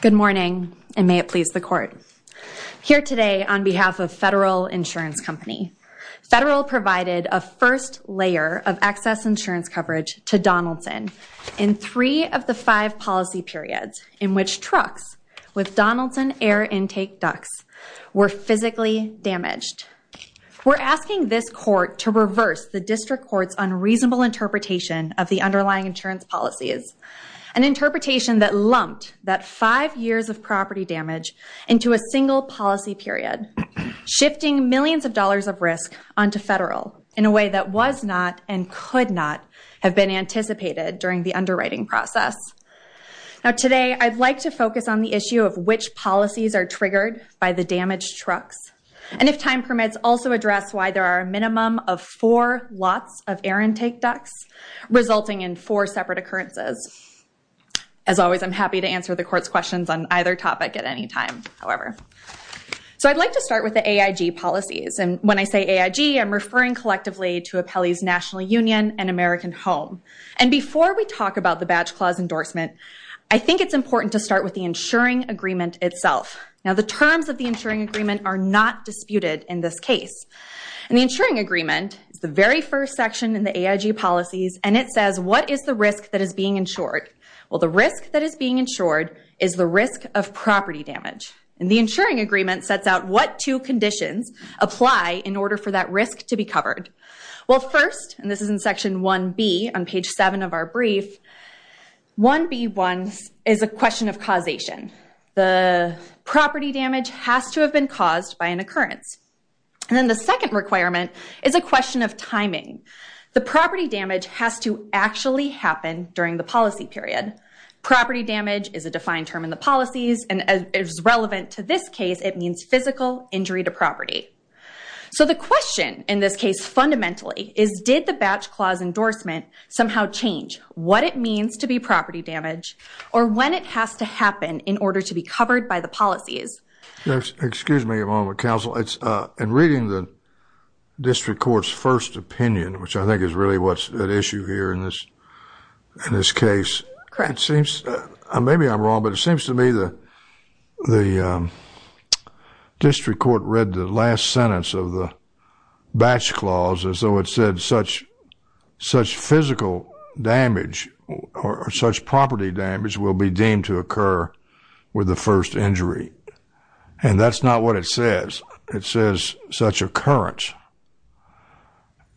Good morning, and may it please the court. Here today on behalf of Federal Insurance Company, Federal provided a first layer of excess insurance coverage to Donaldson in three of the five policy periods in which trucks with Donaldson air intake ducts were physically damaged. We're asking this court to reverse the district court's unreasonable interpretation of the underlying insurance policies, an interpretation that lumped that five years of property damage into a single policy period, shifting millions of dollars of risk onto federal in a way that was not and could not have been anticipated during the underwriting process. Now today, I'd like to focus on the issue of which policies are triggered by the damaged trucks, and if time permits, also address why there are a minimum of four lots of air intake ducts, resulting in four separate occurrences. As always, I'm happy to answer the court's questions on either topic at any time, however. So I'd like to start with the AIG policies, and when I say AIG, I'm referring collectively to Appellee's National Union and American Home. And before we talk about the badge clause endorsement, I think it's important to start with the insuring agreement itself. Now the terms of the insuring agreement are not disputed in this case. And the insuring agreement is the very first section in the AIG policies, and it says what is the risk that is being insured. Well, the risk that is being insured is the risk of property damage. And the insuring agreement sets out what two conditions apply in order for that risk to be covered. Well, first, and this is in section 1B on page 7 of our brief, 1B1 is a question of causation. The property damage has to have been caused by an occurrence. And then the second requirement is a question of timing. The property damage has to actually happen during the policy period. Property damage is a defined term in the policies, and as relevant to this case, it means physical injury to property. So the question in this case fundamentally is did the badge clause endorsement somehow change what it means to be property damage, or when it has to happen in order to be covered by the policies? Excuse me a moment, counsel. In reading the district court's first opinion, which I think is really what's at issue here in this case, maybe I'm wrong, but it seems to me the district court read the last sentence of the badge clause as though it said such physical damage or such property damage will be deemed to occur with the first injury. And that's not what it says. It says such occurrence.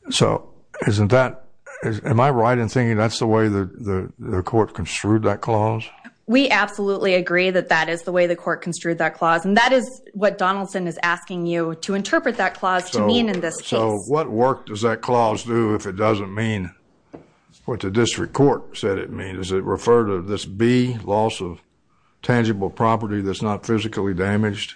So isn't that, am I right in thinking that's the way the court construed that clause? We absolutely agree that that is the way the court construed that clause, and that is what Donaldson is asking you to interpret that clause to mean in this case. So what work does that clause do if it doesn't mean what the district court said it means? Does it refer to this B, loss of tangible property that's not physically damaged?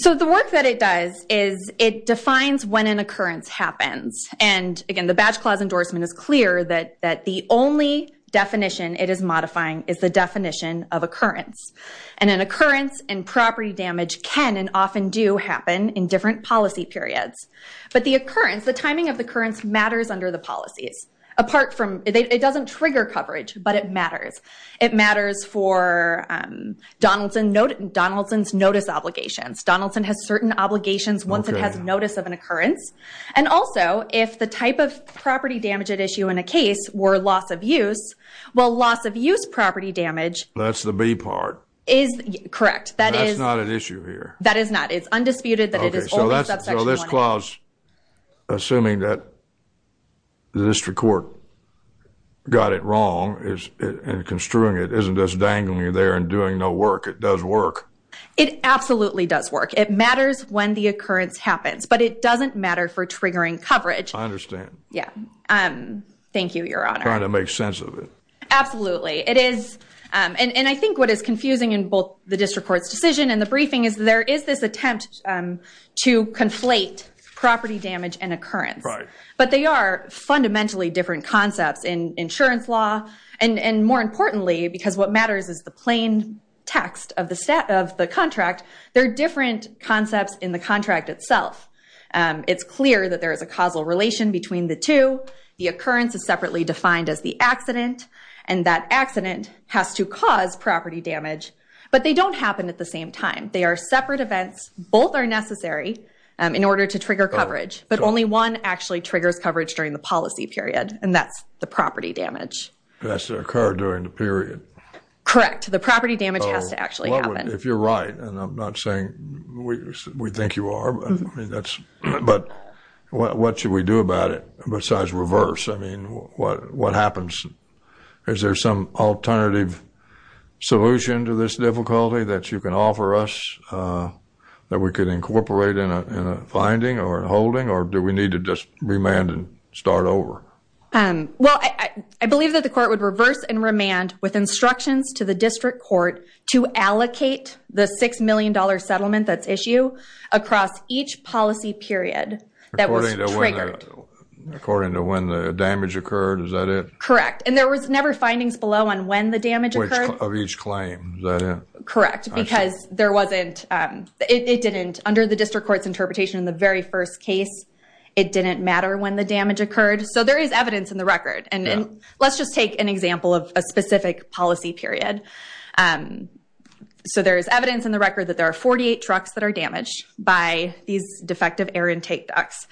So the work that it does is it defines when an occurrence happens. And again, the badge clause endorsement is clear that the only definition it is modifying is the definition of occurrence. And an occurrence and property damage can and often do happen in different policy periods. But the occurrence, the timing of the occurrence matters under the policies. Apart from, it doesn't trigger coverage, but it matters. It matters for Donaldson's notice obligations. Donaldson has certain obligations once it has notice of an occurrence. And also, if the type of property damage at issue in a case were loss of use, well, loss of use property damage. That's the B part. Correct. That's not an issue here. That is not. Okay, so this clause, assuming that the district court got it wrong and construing it, isn't just dangling you there and doing no work. It does work. It absolutely does work. It matters when the occurrence happens. But it doesn't matter for triggering coverage. I understand. Yeah. Thank you, Your Honor. Trying to make sense of it. Absolutely. And I think what is confusing in both the district court's decision and the briefing is there is this attempt to conflate property damage and occurrence. But they are fundamentally different concepts in insurance law. And more importantly, because what matters is the plain text of the contract, they're different concepts in the contract itself. It's clear that there is a causal relation between the two. The occurrence is separately defined as the accident. And that accident has to cause property damage. But they don't happen at the same time. They are separate events. Both are necessary in order to trigger coverage. But only one actually triggers coverage during the policy period, and that's the property damage. It has to occur during the period. Correct. The property damage has to actually happen. If you're right, and I'm not saying we think you are, but what should we do about it besides reverse? I mean, what happens? Is there some alternative solution to this difficulty that you can offer us that we could incorporate in a finding or a holding, or do we need to just remand and start over? Well, I believe that the court would reverse and remand with instructions to the district court to allocate the $6 million settlement that's issued across each policy period that was triggered. According to when the damage occurred, is that it? Correct. And there was never findings below on when the damage occurred? Of each claim, is that it? Correct, because it didn't, under the district court's interpretation in the very first case, it didn't matter when the damage occurred. So there is evidence in the record. And let's just take an example of a specific policy period. So there is evidence in the record that there are 48 trucks that are damaged by these defective air intake ducts.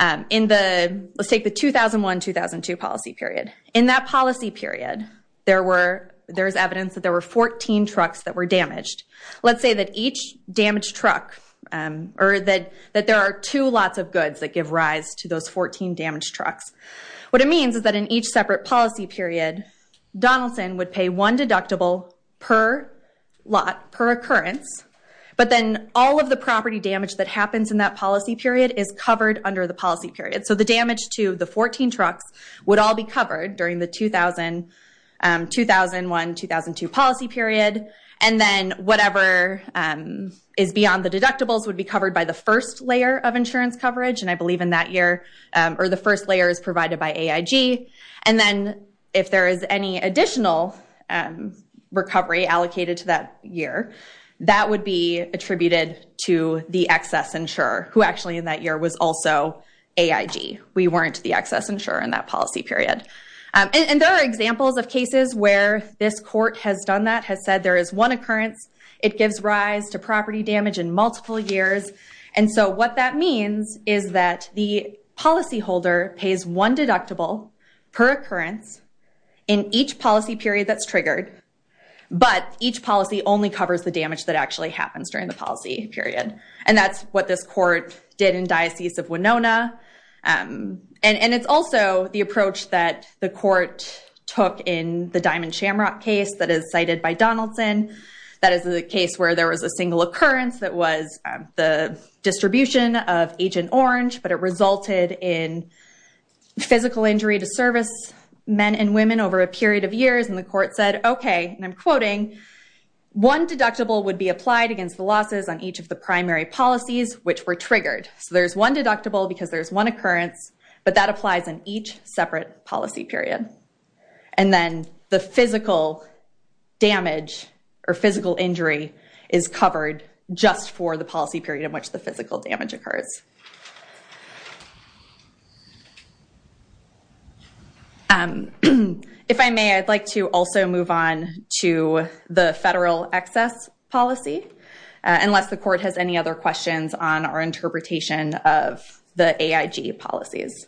Let's take the 2001-2002 policy period. In that policy period, there is evidence that there were 14 trucks that were damaged. Let's say that each damaged truck, or that there are two lots of goods that give rise to those 14 damaged trucks. What it means is that in each separate policy period, Donaldson would pay one deductible per lot, per occurrence, but then all of the property damage that happens in that policy period is covered under the policy period. So the damage to the 14 trucks would all be covered during the 2001-2002 policy period, and then whatever is beyond the deductibles would be covered by the first layer of insurance coverage, and I believe in that year, or the first layer is provided by AIG, and then if there is any additional recovery allocated to that year, that would be attributed to the excess insurer, who actually in that year was also AIG. We weren't the excess insurer in that policy period. And there are examples of cases where this court has done that, has said there is one occurrence, it gives rise to property damage in multiple years, and so what that means is that the policyholder pays one deductible per occurrence in each policy period that's triggered, but each policy only covers the damage that actually happens during the policy period, and that's what this court did in Diocese of Winona, and it's also the approach that the court took in the Diamond Shamrock case that is cited by Donaldson, that is the case where there was a single occurrence that was the distribution of Agent Orange, but it resulted in physical injury to service men and women over a period of years, and the court said, okay, and I'm quoting, one deductible would be applied against the losses on each of the primary policies, which were triggered. So there's one deductible because there's one occurrence, but that applies in each separate policy period, and then the physical damage or physical injury is covered just for the policy period in which the physical damage occurs. If I may, I'd like to also move on to the federal excess policy, unless the court has any other questions on our interpretation of the AIG policies.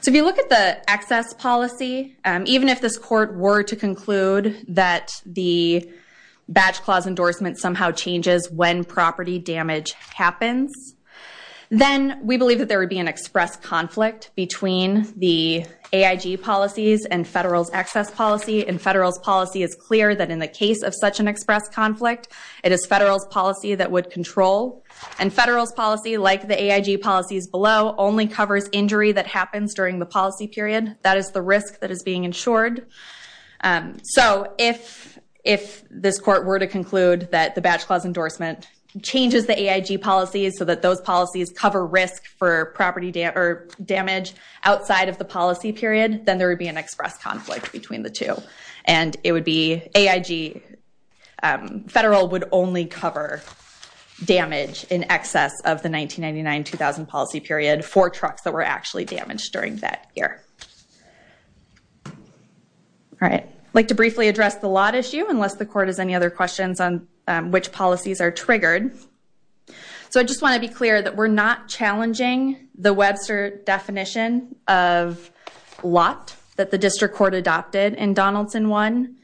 So if you look at the excess policy, even if this court were to conclude that the badge clause endorsement somehow changes when property damage happens, then we believe that there would be an express conflict between the AIG policies and federal's excess policy, and federal's policy is clear that in the case of such an express conflict, it is federal's policy that would control, and federal's policy, like the AIG policies below, only covers injury that happens during the policy period. That is the risk that is being insured. So if this court were to conclude that the badge clause endorsement changes the AIG policies so that those policies cover risk for property damage outside of the policy period, then there would be an express conflict between the two, and it would be AIG federal would only cover damage in excess of the 1999-2000 policy period for trucks that were actually damaged during that year. I'd like to briefly address the lot issue, unless the court has any other questions on which policies are triggered. So I just want to be clear that we're not challenging the Webster definition of lot that the district court adopted in Donaldson 1.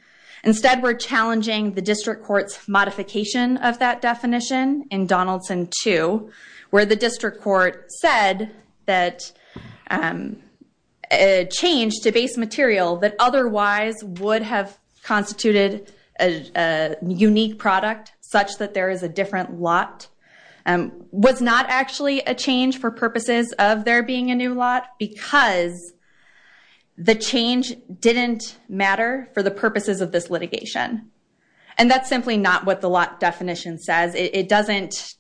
Instead, we're challenging the district court's modification of that definition in Donaldson 2, where the district court said that a change to base material that otherwise would have constituted a unique product such that there is a different lot was not actually a change for purposes of there being a new lot because the change didn't matter for the purposes of this litigation. And that's simply not what the lot definition says. It doesn't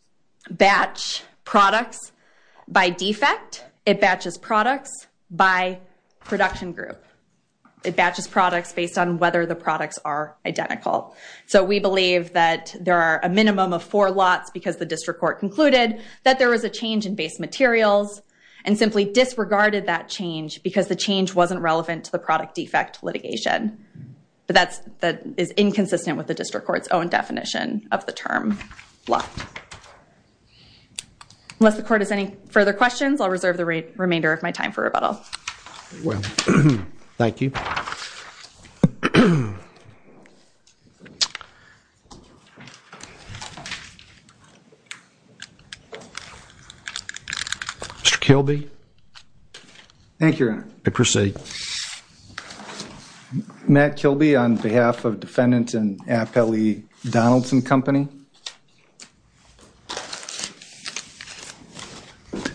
batch products by defect. It batches products by production group. It batches products based on whether the products are identical. So we believe that there are a minimum of four lots because the district court concluded that there was a change in base materials and simply disregarded that change because the change wasn't relevant to the product defect litigation. But that is inconsistent with the district court's own definition of the term lot. Unless the court has any further questions, I'll reserve the remainder of my time for rebuttal. Well, thank you. Mr. Kilby. Thank you, Your Honor. Proceed. Matt Kilby on behalf of defendant in Appellee Donaldson Company.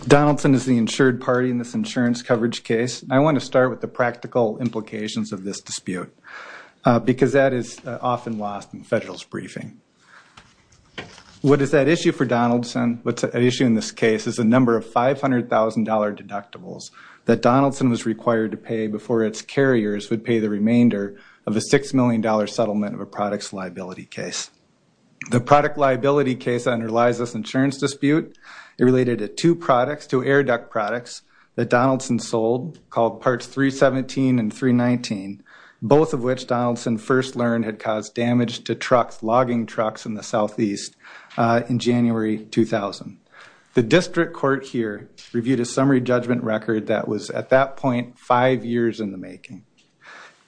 Donaldson is the insured party in this insurance coverage case. I want to start with the practical implications of this dispute because that is often lost in federal's briefing. What is at issue for Donaldson, what's at issue in this case, is the number of $500,000 deductibles that Donaldson was required to pay before its carriers would pay the remainder of a $6 million settlement of a products liability case. The product liability case underlies this insurance dispute. It related to two products, two air duct products that Donaldson sold called parts 317 and 319, both of which Donaldson first learned had caused damage to trucks, logging trucks in the southeast in January 2000. The district court here reviewed a summary judgment record that was at that point five years in the making.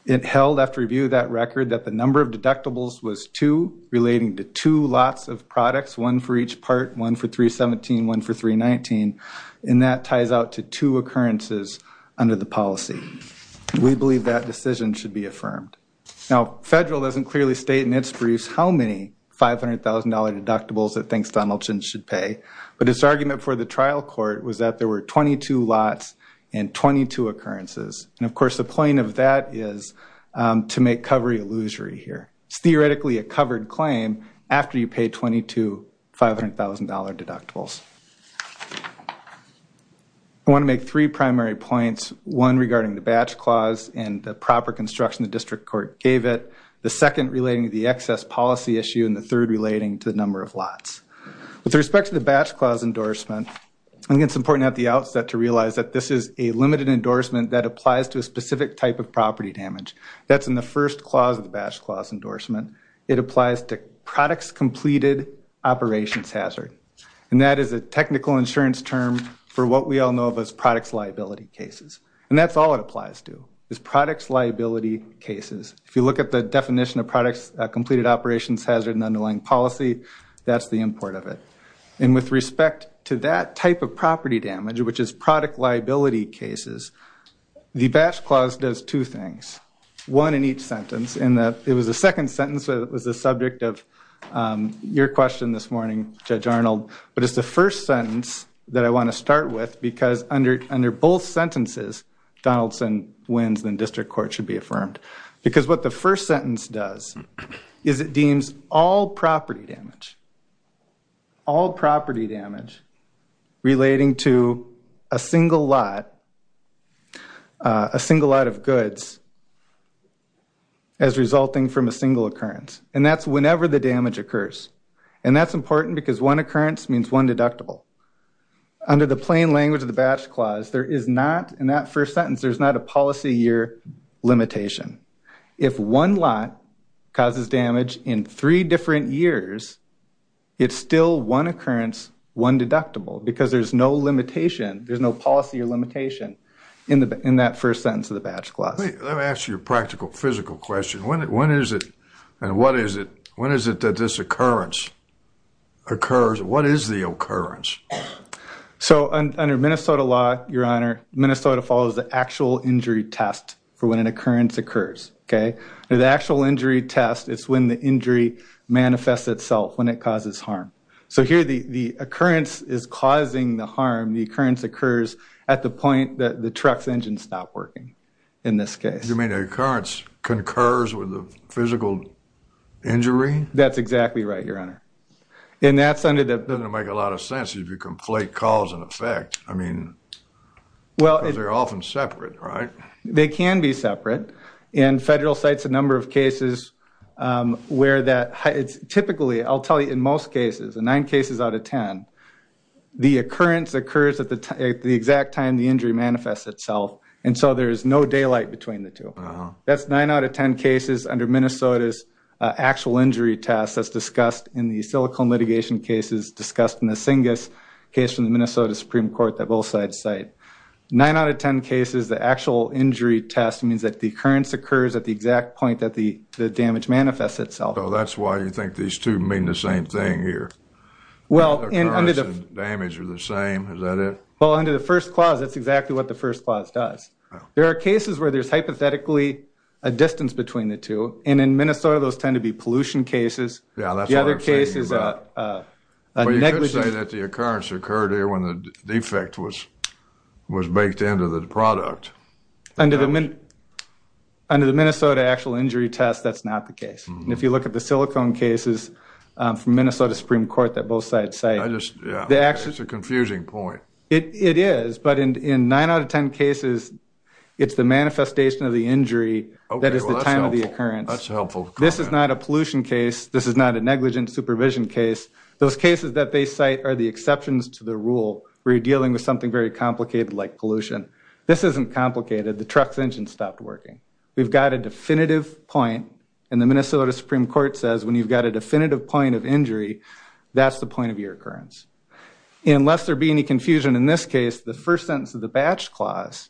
It held after review of that record that the number of deductibles was two, relating to two lots of products, one for each part, one for 317, one for 319, and that ties out to two occurrences under the policy. We believe that decision should be affirmed. Now, federal doesn't clearly state in its briefs how many $500,000 deductibles it thinks Donaldson should pay, but its argument for the trial court was that there were 22 lots and 22 occurrences. And, of course, the point of that is to make cover illusory here. It's theoretically a covered claim after you pay 22 $500,000 deductibles. I want to make three primary points, one regarding the batch clause and the proper construction the district court gave it, the second relating to the excess policy issue, and the third relating to the number of lots. With respect to the batch clause endorsement, I think it's important at the outset to realize that this is a limited endorsement that applies to a specific type of property damage. That's in the first clause of the batch clause endorsement. It applies to products completed operations hazard, and that is a technical insurance term for what we all know of as products liability cases, and that's all it applies to is products liability cases. If you look at the definition of products completed operations hazard and underlying policy, that's the import of it. And with respect to that type of property damage, which is product liability cases, the batch clause does two things, one in each sentence. It was the second sentence that was the subject of your question this morning, Judge Arnold, but it's the first sentence that I want to start with because under both sentences, Donaldson wins and the district court should be affirmed. Because what the first sentence does is it deems all property damage, all property damage relating to a single lot, a single lot of goods, as resulting from a single occurrence, and that's whenever the damage occurs. And that's important because one occurrence means one deductible. Under the plain language of the batch clause, there is not, in that first sentence, there's not a policy year limitation. If one lot causes damage in three different years, it's still one occurrence, one deductible, because there's no limitation, there's no policy or limitation in that first sentence of the batch clause. Let me ask you a practical, physical question. When is it and what is it, when is it that this occurrence occurs? What is the occurrence? So under Minnesota law, Your Honor, Minnesota follows the actual injury test for when an occurrence occurs, okay? The actual injury test is when the injury manifests itself when it causes harm. So here the occurrence is causing the harm, the occurrence occurs at the point that the truck's engine stopped working in this case. You mean the occurrence concurs with the physical injury? That's exactly right, Your Honor. It doesn't make a lot of sense if you conflate cause and effect. I mean, because they're often separate, right? They can be separate. And federal cites a number of cases where that typically, I'll tell you, in most cases, in nine cases out of ten, the occurrence occurs at the exact time the injury manifests itself. And so there is no daylight between the two. That's nine out of ten cases under Minnesota's actual injury test as discussed in the silicone litigation cases discussed in the Singus case from the Minnesota Supreme Court, that both sides cite. Nine out of ten cases, the actual injury test means that the occurrence occurs at the exact point that the damage manifests itself. So that's why you think these two mean the same thing here. Well, and under the- The occurrence and damage are the same, is that it? Well, under the first clause, that's exactly what the first clause does. There are cases where there's hypothetically a distance between the two. And in Minnesota, those tend to be pollution cases. Yeah, that's what I'm saying. The other case is a negligent- Well, you could say that the occurrence occurred here when the defect was baked into the product. Under the Minnesota actual injury test, that's not the case. And if you look at the silicone cases from Minnesota Supreme Court that both sides cite- I just, yeah, it's a confusing point. It is, but in nine out of ten cases, it's the manifestation of the injury that is the time of the occurrence. That's helpful. This is not a pollution case. This is not a negligent supervision case. Those cases that they cite are the exceptions to the rule where you're dealing with something very complicated like pollution. This isn't complicated. The truck's engine stopped working. We've got a definitive point, and the Minnesota Supreme Court says when you've got a definitive point of injury, that's the point of your occurrence. And lest there be any confusion in this case, the first sentence of the Batch Clause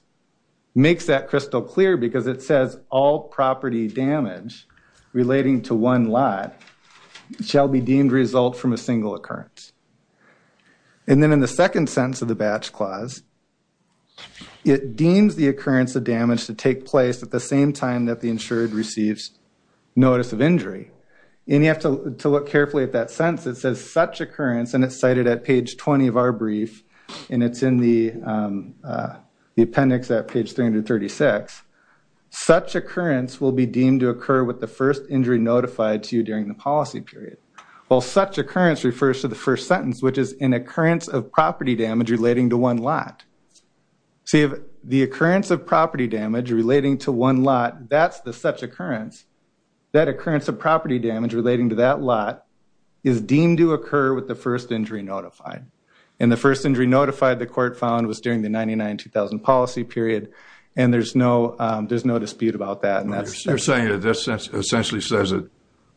makes that crystal clear because it says all property damage relating to one lot shall be deemed result from a single occurrence. And then in the second sentence of the Batch Clause, it deems the occurrence of damage to take place at the same time that the insured receives notice of injury. And you have to look carefully at that sentence. It says such occurrence, and it's cited at page 20 of our brief, and it's in the appendix at page 336. Such occurrence will be deemed to occur with the first injury notified to you during the policy period. Well, such occurrence refers to the first sentence, which is an occurrence of property damage relating to one lot. See, the occurrence of property damage relating to one lot, that's the such occurrence. That occurrence of property damage relating to that lot is deemed to occur with the first injury notified. And the first injury notified, the court found, was during the 99-2000 policy period, and there's no dispute about that. You're saying that this essentially says that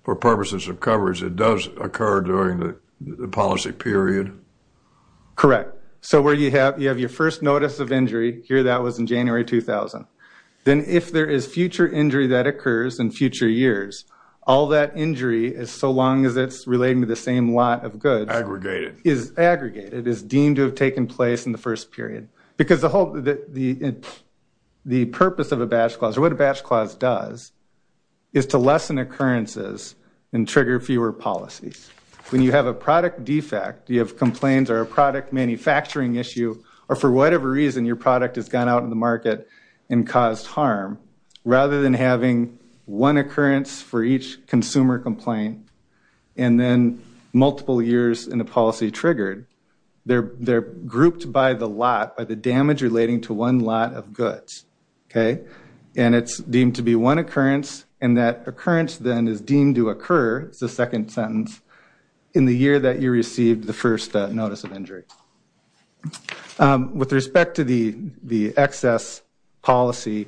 for purposes of coverage, it does occur during the policy period? Correct. So where you have your first notice of injury, here that was in January 2000. Then if there is future injury that occurs in future years, all that injury, so long as it's relating to the same lot of goods. Aggregated. Is aggregated, is deemed to have taken place in the first period. Because the purpose of a batch clause, or what a batch clause does, is to lessen occurrences and trigger fewer policies. When you have a product defect, you have complaints or a product manufacturing issue, or for whatever reason your product has gone out in the market and caused harm, rather than having one occurrence for each consumer complaint, and then multiple years in the policy triggered, they're grouped by the lot, by the damage relating to one lot of goods. Okay? And it's deemed to be one occurrence, and that occurrence then is deemed to occur, is the second sentence, in the year that you received the first notice of injury. With respect to the excess policy,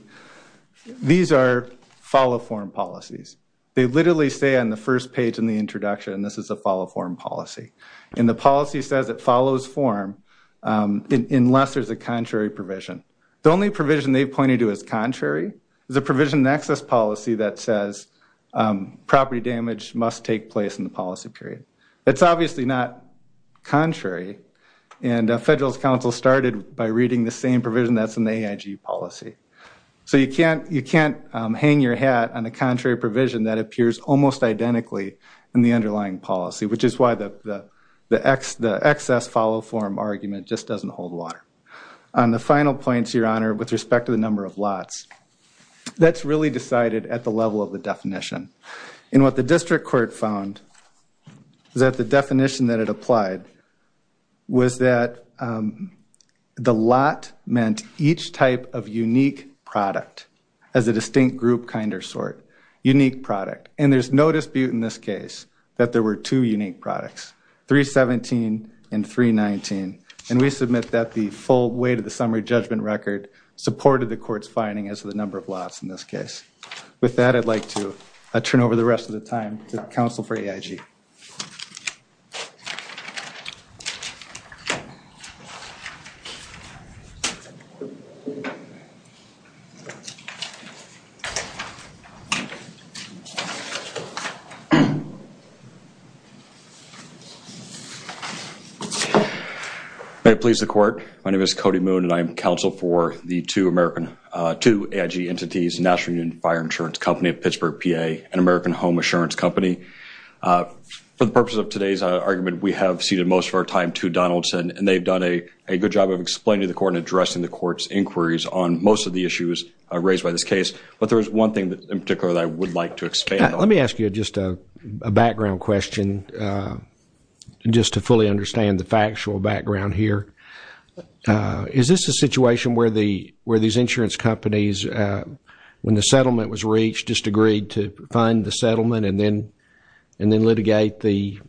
these are follow-form policies. They literally say on the first page in the introduction, this is a follow-form policy. And the policy says it follows form unless there's a contrary provision. The only provision they pointed to as contrary is a provision in the excess policy that says, property damage must take place in the policy period. That's obviously not contrary, and Federalist Council started by reading the same provision that's in the AIG policy. So you can't hang your hat on a contrary provision that appears almost identically in the underlying policy, which is why the excess follow-form argument just doesn't hold water. On the final point, Your Honor, with respect to the number of lots, that's really decided at the level of the definition. And what the district court found is that the definition that it applied was that the lot meant each type of unique product, as a distinct group, kind, or sort, unique product. And there's no dispute in this case that there were two unique products, 317 and 319. And we submit that the full weight of the summary judgment record supported the court's finding as to the number of lots in this case. With that, I'd like to turn over the rest of the time to counsel for AIG. May it please the court. My name is Cody Moon, and I am counsel for the two AIG entities, National Union Fire Insurance Company of Pittsburgh, PA, and American Home Assurance Company. For the purpose of today's argument, we have ceded most of our time to Donaldson, and they've done a good job of explaining to the court and addressing the court's inquiries on most of the issues raised by this case. But there is one thing in particular that I would like to expand on. Let me ask you just a background question, just to fully understand the factual background here. Is this a situation where these insurance companies, when the settlement was reached, just agreed to fund the settlement and then litigate the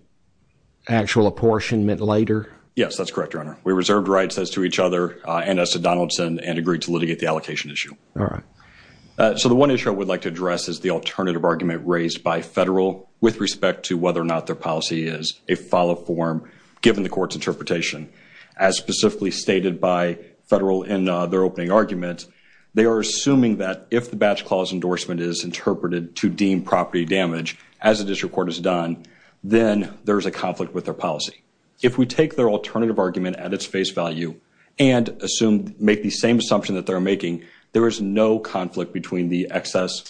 actual apportionment later? Yes, that's correct, Your Honor. We reserved rights as to each other and as to Donaldson and agreed to litigate the allocation issue. All right. So the one issue I would like to address is the alternative argument raised by federal with respect to whether or not their policy is a follow-up form given the court's interpretation. As specifically stated by federal in their opening argument, they are assuming that if the batch clause endorsement is interpreted to deem property damage, as the district court has done, then there is a conflict with their policy. If we take their alternative argument at its face value and make the same assumption that they're making, there is no conflict between the excess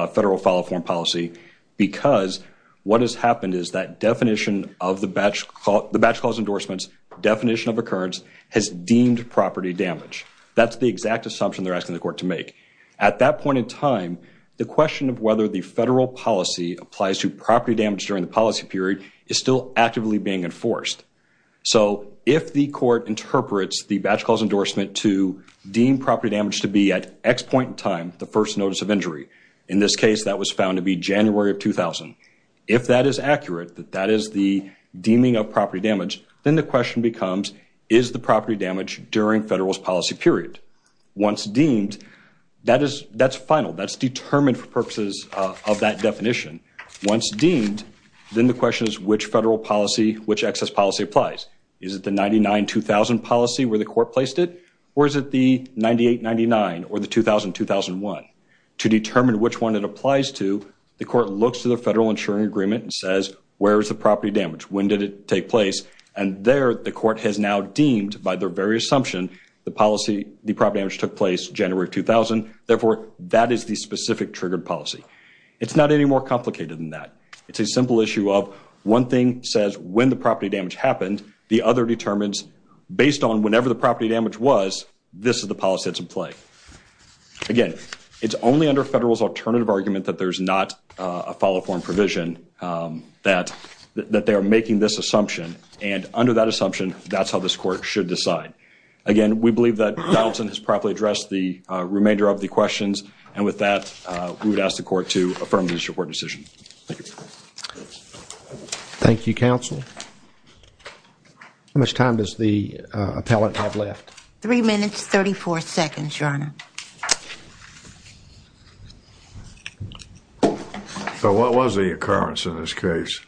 federal follow-up form policy because what has happened is that the batch clause endorsement's definition of occurrence has deemed property damage. That's the exact assumption they're asking the court to make. At that point in time, the question of whether the federal policy applies to property damage during the policy period is still actively being enforced. So if the court interprets the batch clause endorsement to deem property damage to be at X point in time, the first notice of injury, in this case that was found to be January of 2000, if that is accurate, that that is the deeming of property damage, then the question becomes, is the property damage during federal's policy period? Once deemed, that's final. That's determined for purposes of that definition. Once deemed, then the question is, which federal policy, which excess policy applies? Is it the 99-2000 policy where the court placed it? Or is it the 98-99 or the 2000-2001? To determine which one it applies to, the court looks to the federal insuring agreement and says, where is the property damage? When did it take place? And there, the court has now deemed by their very assumption the policy, the property damage took place January of 2000. Therefore, that is the specific triggered policy. It's not any more complicated than that. It's a simple issue of one thing says when the property damage happened, the other determines based on whenever the property damage was, this is the policy that's in play. Again, it's only under federal's alternative argument that there's not a follow form provision, that they are making this assumption. And under that assumption, that's how this court should decide. Again, we believe that Donaldson has properly addressed the remainder of the questions. And with that, we would ask the court to affirm the district court decision. Thank you. Thank you, counsel. How much time does the appellate have left? Three minutes, 34 seconds, your honor. So what was the occurrence in this case?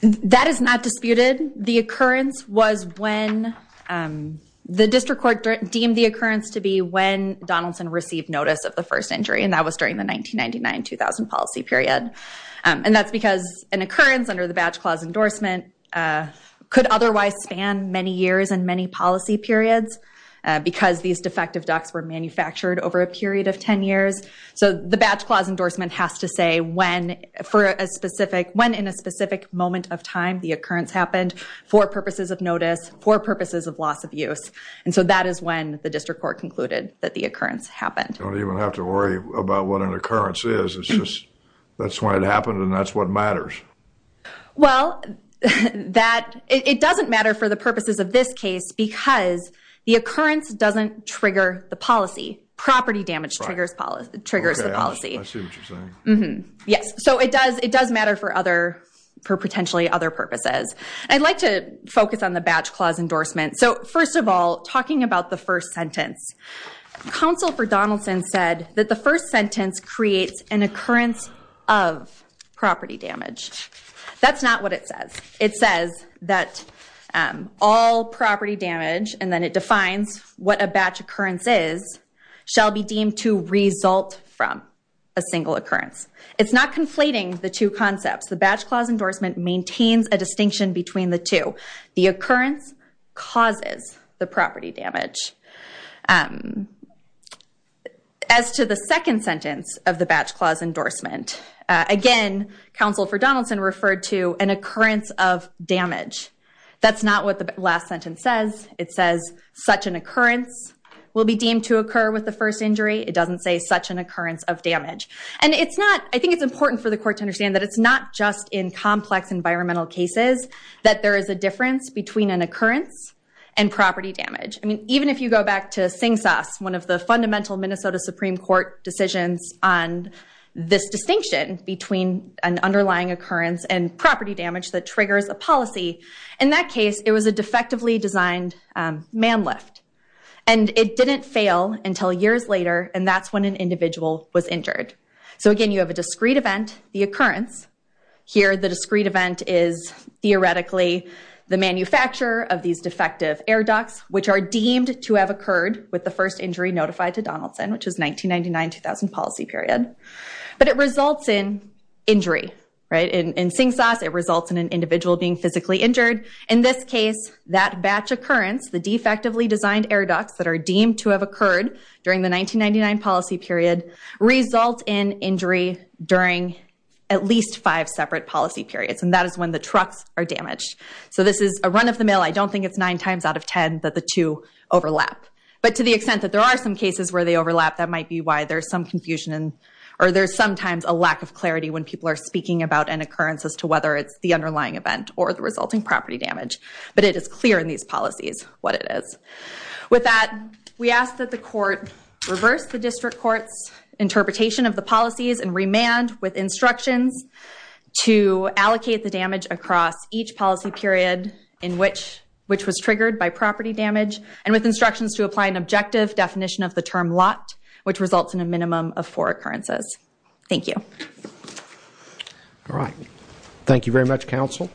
That is not disputed. The occurrence was when the district court deemed the occurrence to be when Donaldson received notice of the first injury, and that was during the 1999-2000 policy period. And that's because an occurrence under the badge clause endorsement could otherwise span many years and many policy periods because these defective ducks were manufactured over a period of 10 years. So the badge clause endorsement has to say when in a specific moment of time the occurrence happened for purposes of notice, for purposes of loss of use. And so that is when the district court concluded that the occurrence happened. You don't even have to worry about what an occurrence is. It's just that's when it happened and that's what matters. Well, it doesn't matter for the purposes of this case because the occurrence doesn't trigger the policy. Okay, I see what you're saying. Yes, so it does matter for potentially other purposes. I'd like to focus on the badge clause endorsement. So first of all, talking about the first sentence, counsel for Donaldson said that the first sentence creates an occurrence of property damage. That's not what it says. It says that all property damage, and then it defines what a batch occurrence is, shall be deemed to result from a single occurrence. It's not conflating the two concepts. The badge clause endorsement maintains a distinction between the two. The occurrence causes the property damage. As to the second sentence of the badge clause endorsement, again, counsel for Donaldson referred to an occurrence of damage. That's not what the last sentence says. It says such an occurrence will be deemed to occur with the first injury. It doesn't say such an occurrence of damage. And I think it's important for the court to understand that it's not just in complex environmental cases that there is a difference between an occurrence and property damage. I mean, even if you go back to SINGSAS, one of the fundamental Minnesota Supreme Court decisions on this distinction between an underlying occurrence and property damage that triggers a policy, in that case it was a defectively designed man lift. And it didn't fail until years later, and that's when an individual was injured. So again, you have a discrete event, the occurrence. Here, the discrete event is theoretically the manufacturer of these defective air ducts, which are deemed to have occurred with the first injury notified to Donaldson, which is 1999-2000 policy period. But it results in injury. In SINGSAS, it results in an individual being physically injured. In this case, that batch occurrence, the defectively designed air ducts that are deemed to have occurred during the 1999 policy period result in injury during at least five separate policy periods. And that is when the trucks are damaged. So this is a run of the mill. I don't think it's nine times out of ten that the two overlap. But to the extent that there are some cases where they overlap, that might be why there's some confusion or there's sometimes a lack of clarity when people are speaking about an occurrence as to whether it's the underlying event or the resulting property damage. But it is clear in these policies what it is. With that, we ask that the court reverse the district court's interpretation of the policies and remand with instructions to allocate the damage across each policy period in which was triggered by property damage and with instructions to apply an objective definition of the term lot, which results in a minimum of four occurrences. Thank you. All right. Thank you very much, counsel.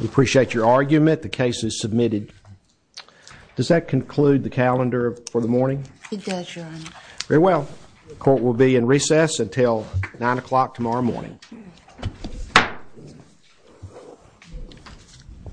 We appreciate your argument. I submit the case is submitted. Does that conclude the calendar for the morning? It does, Your Honor. Very well. The court will be in recess until 9 o'clock tomorrow morning.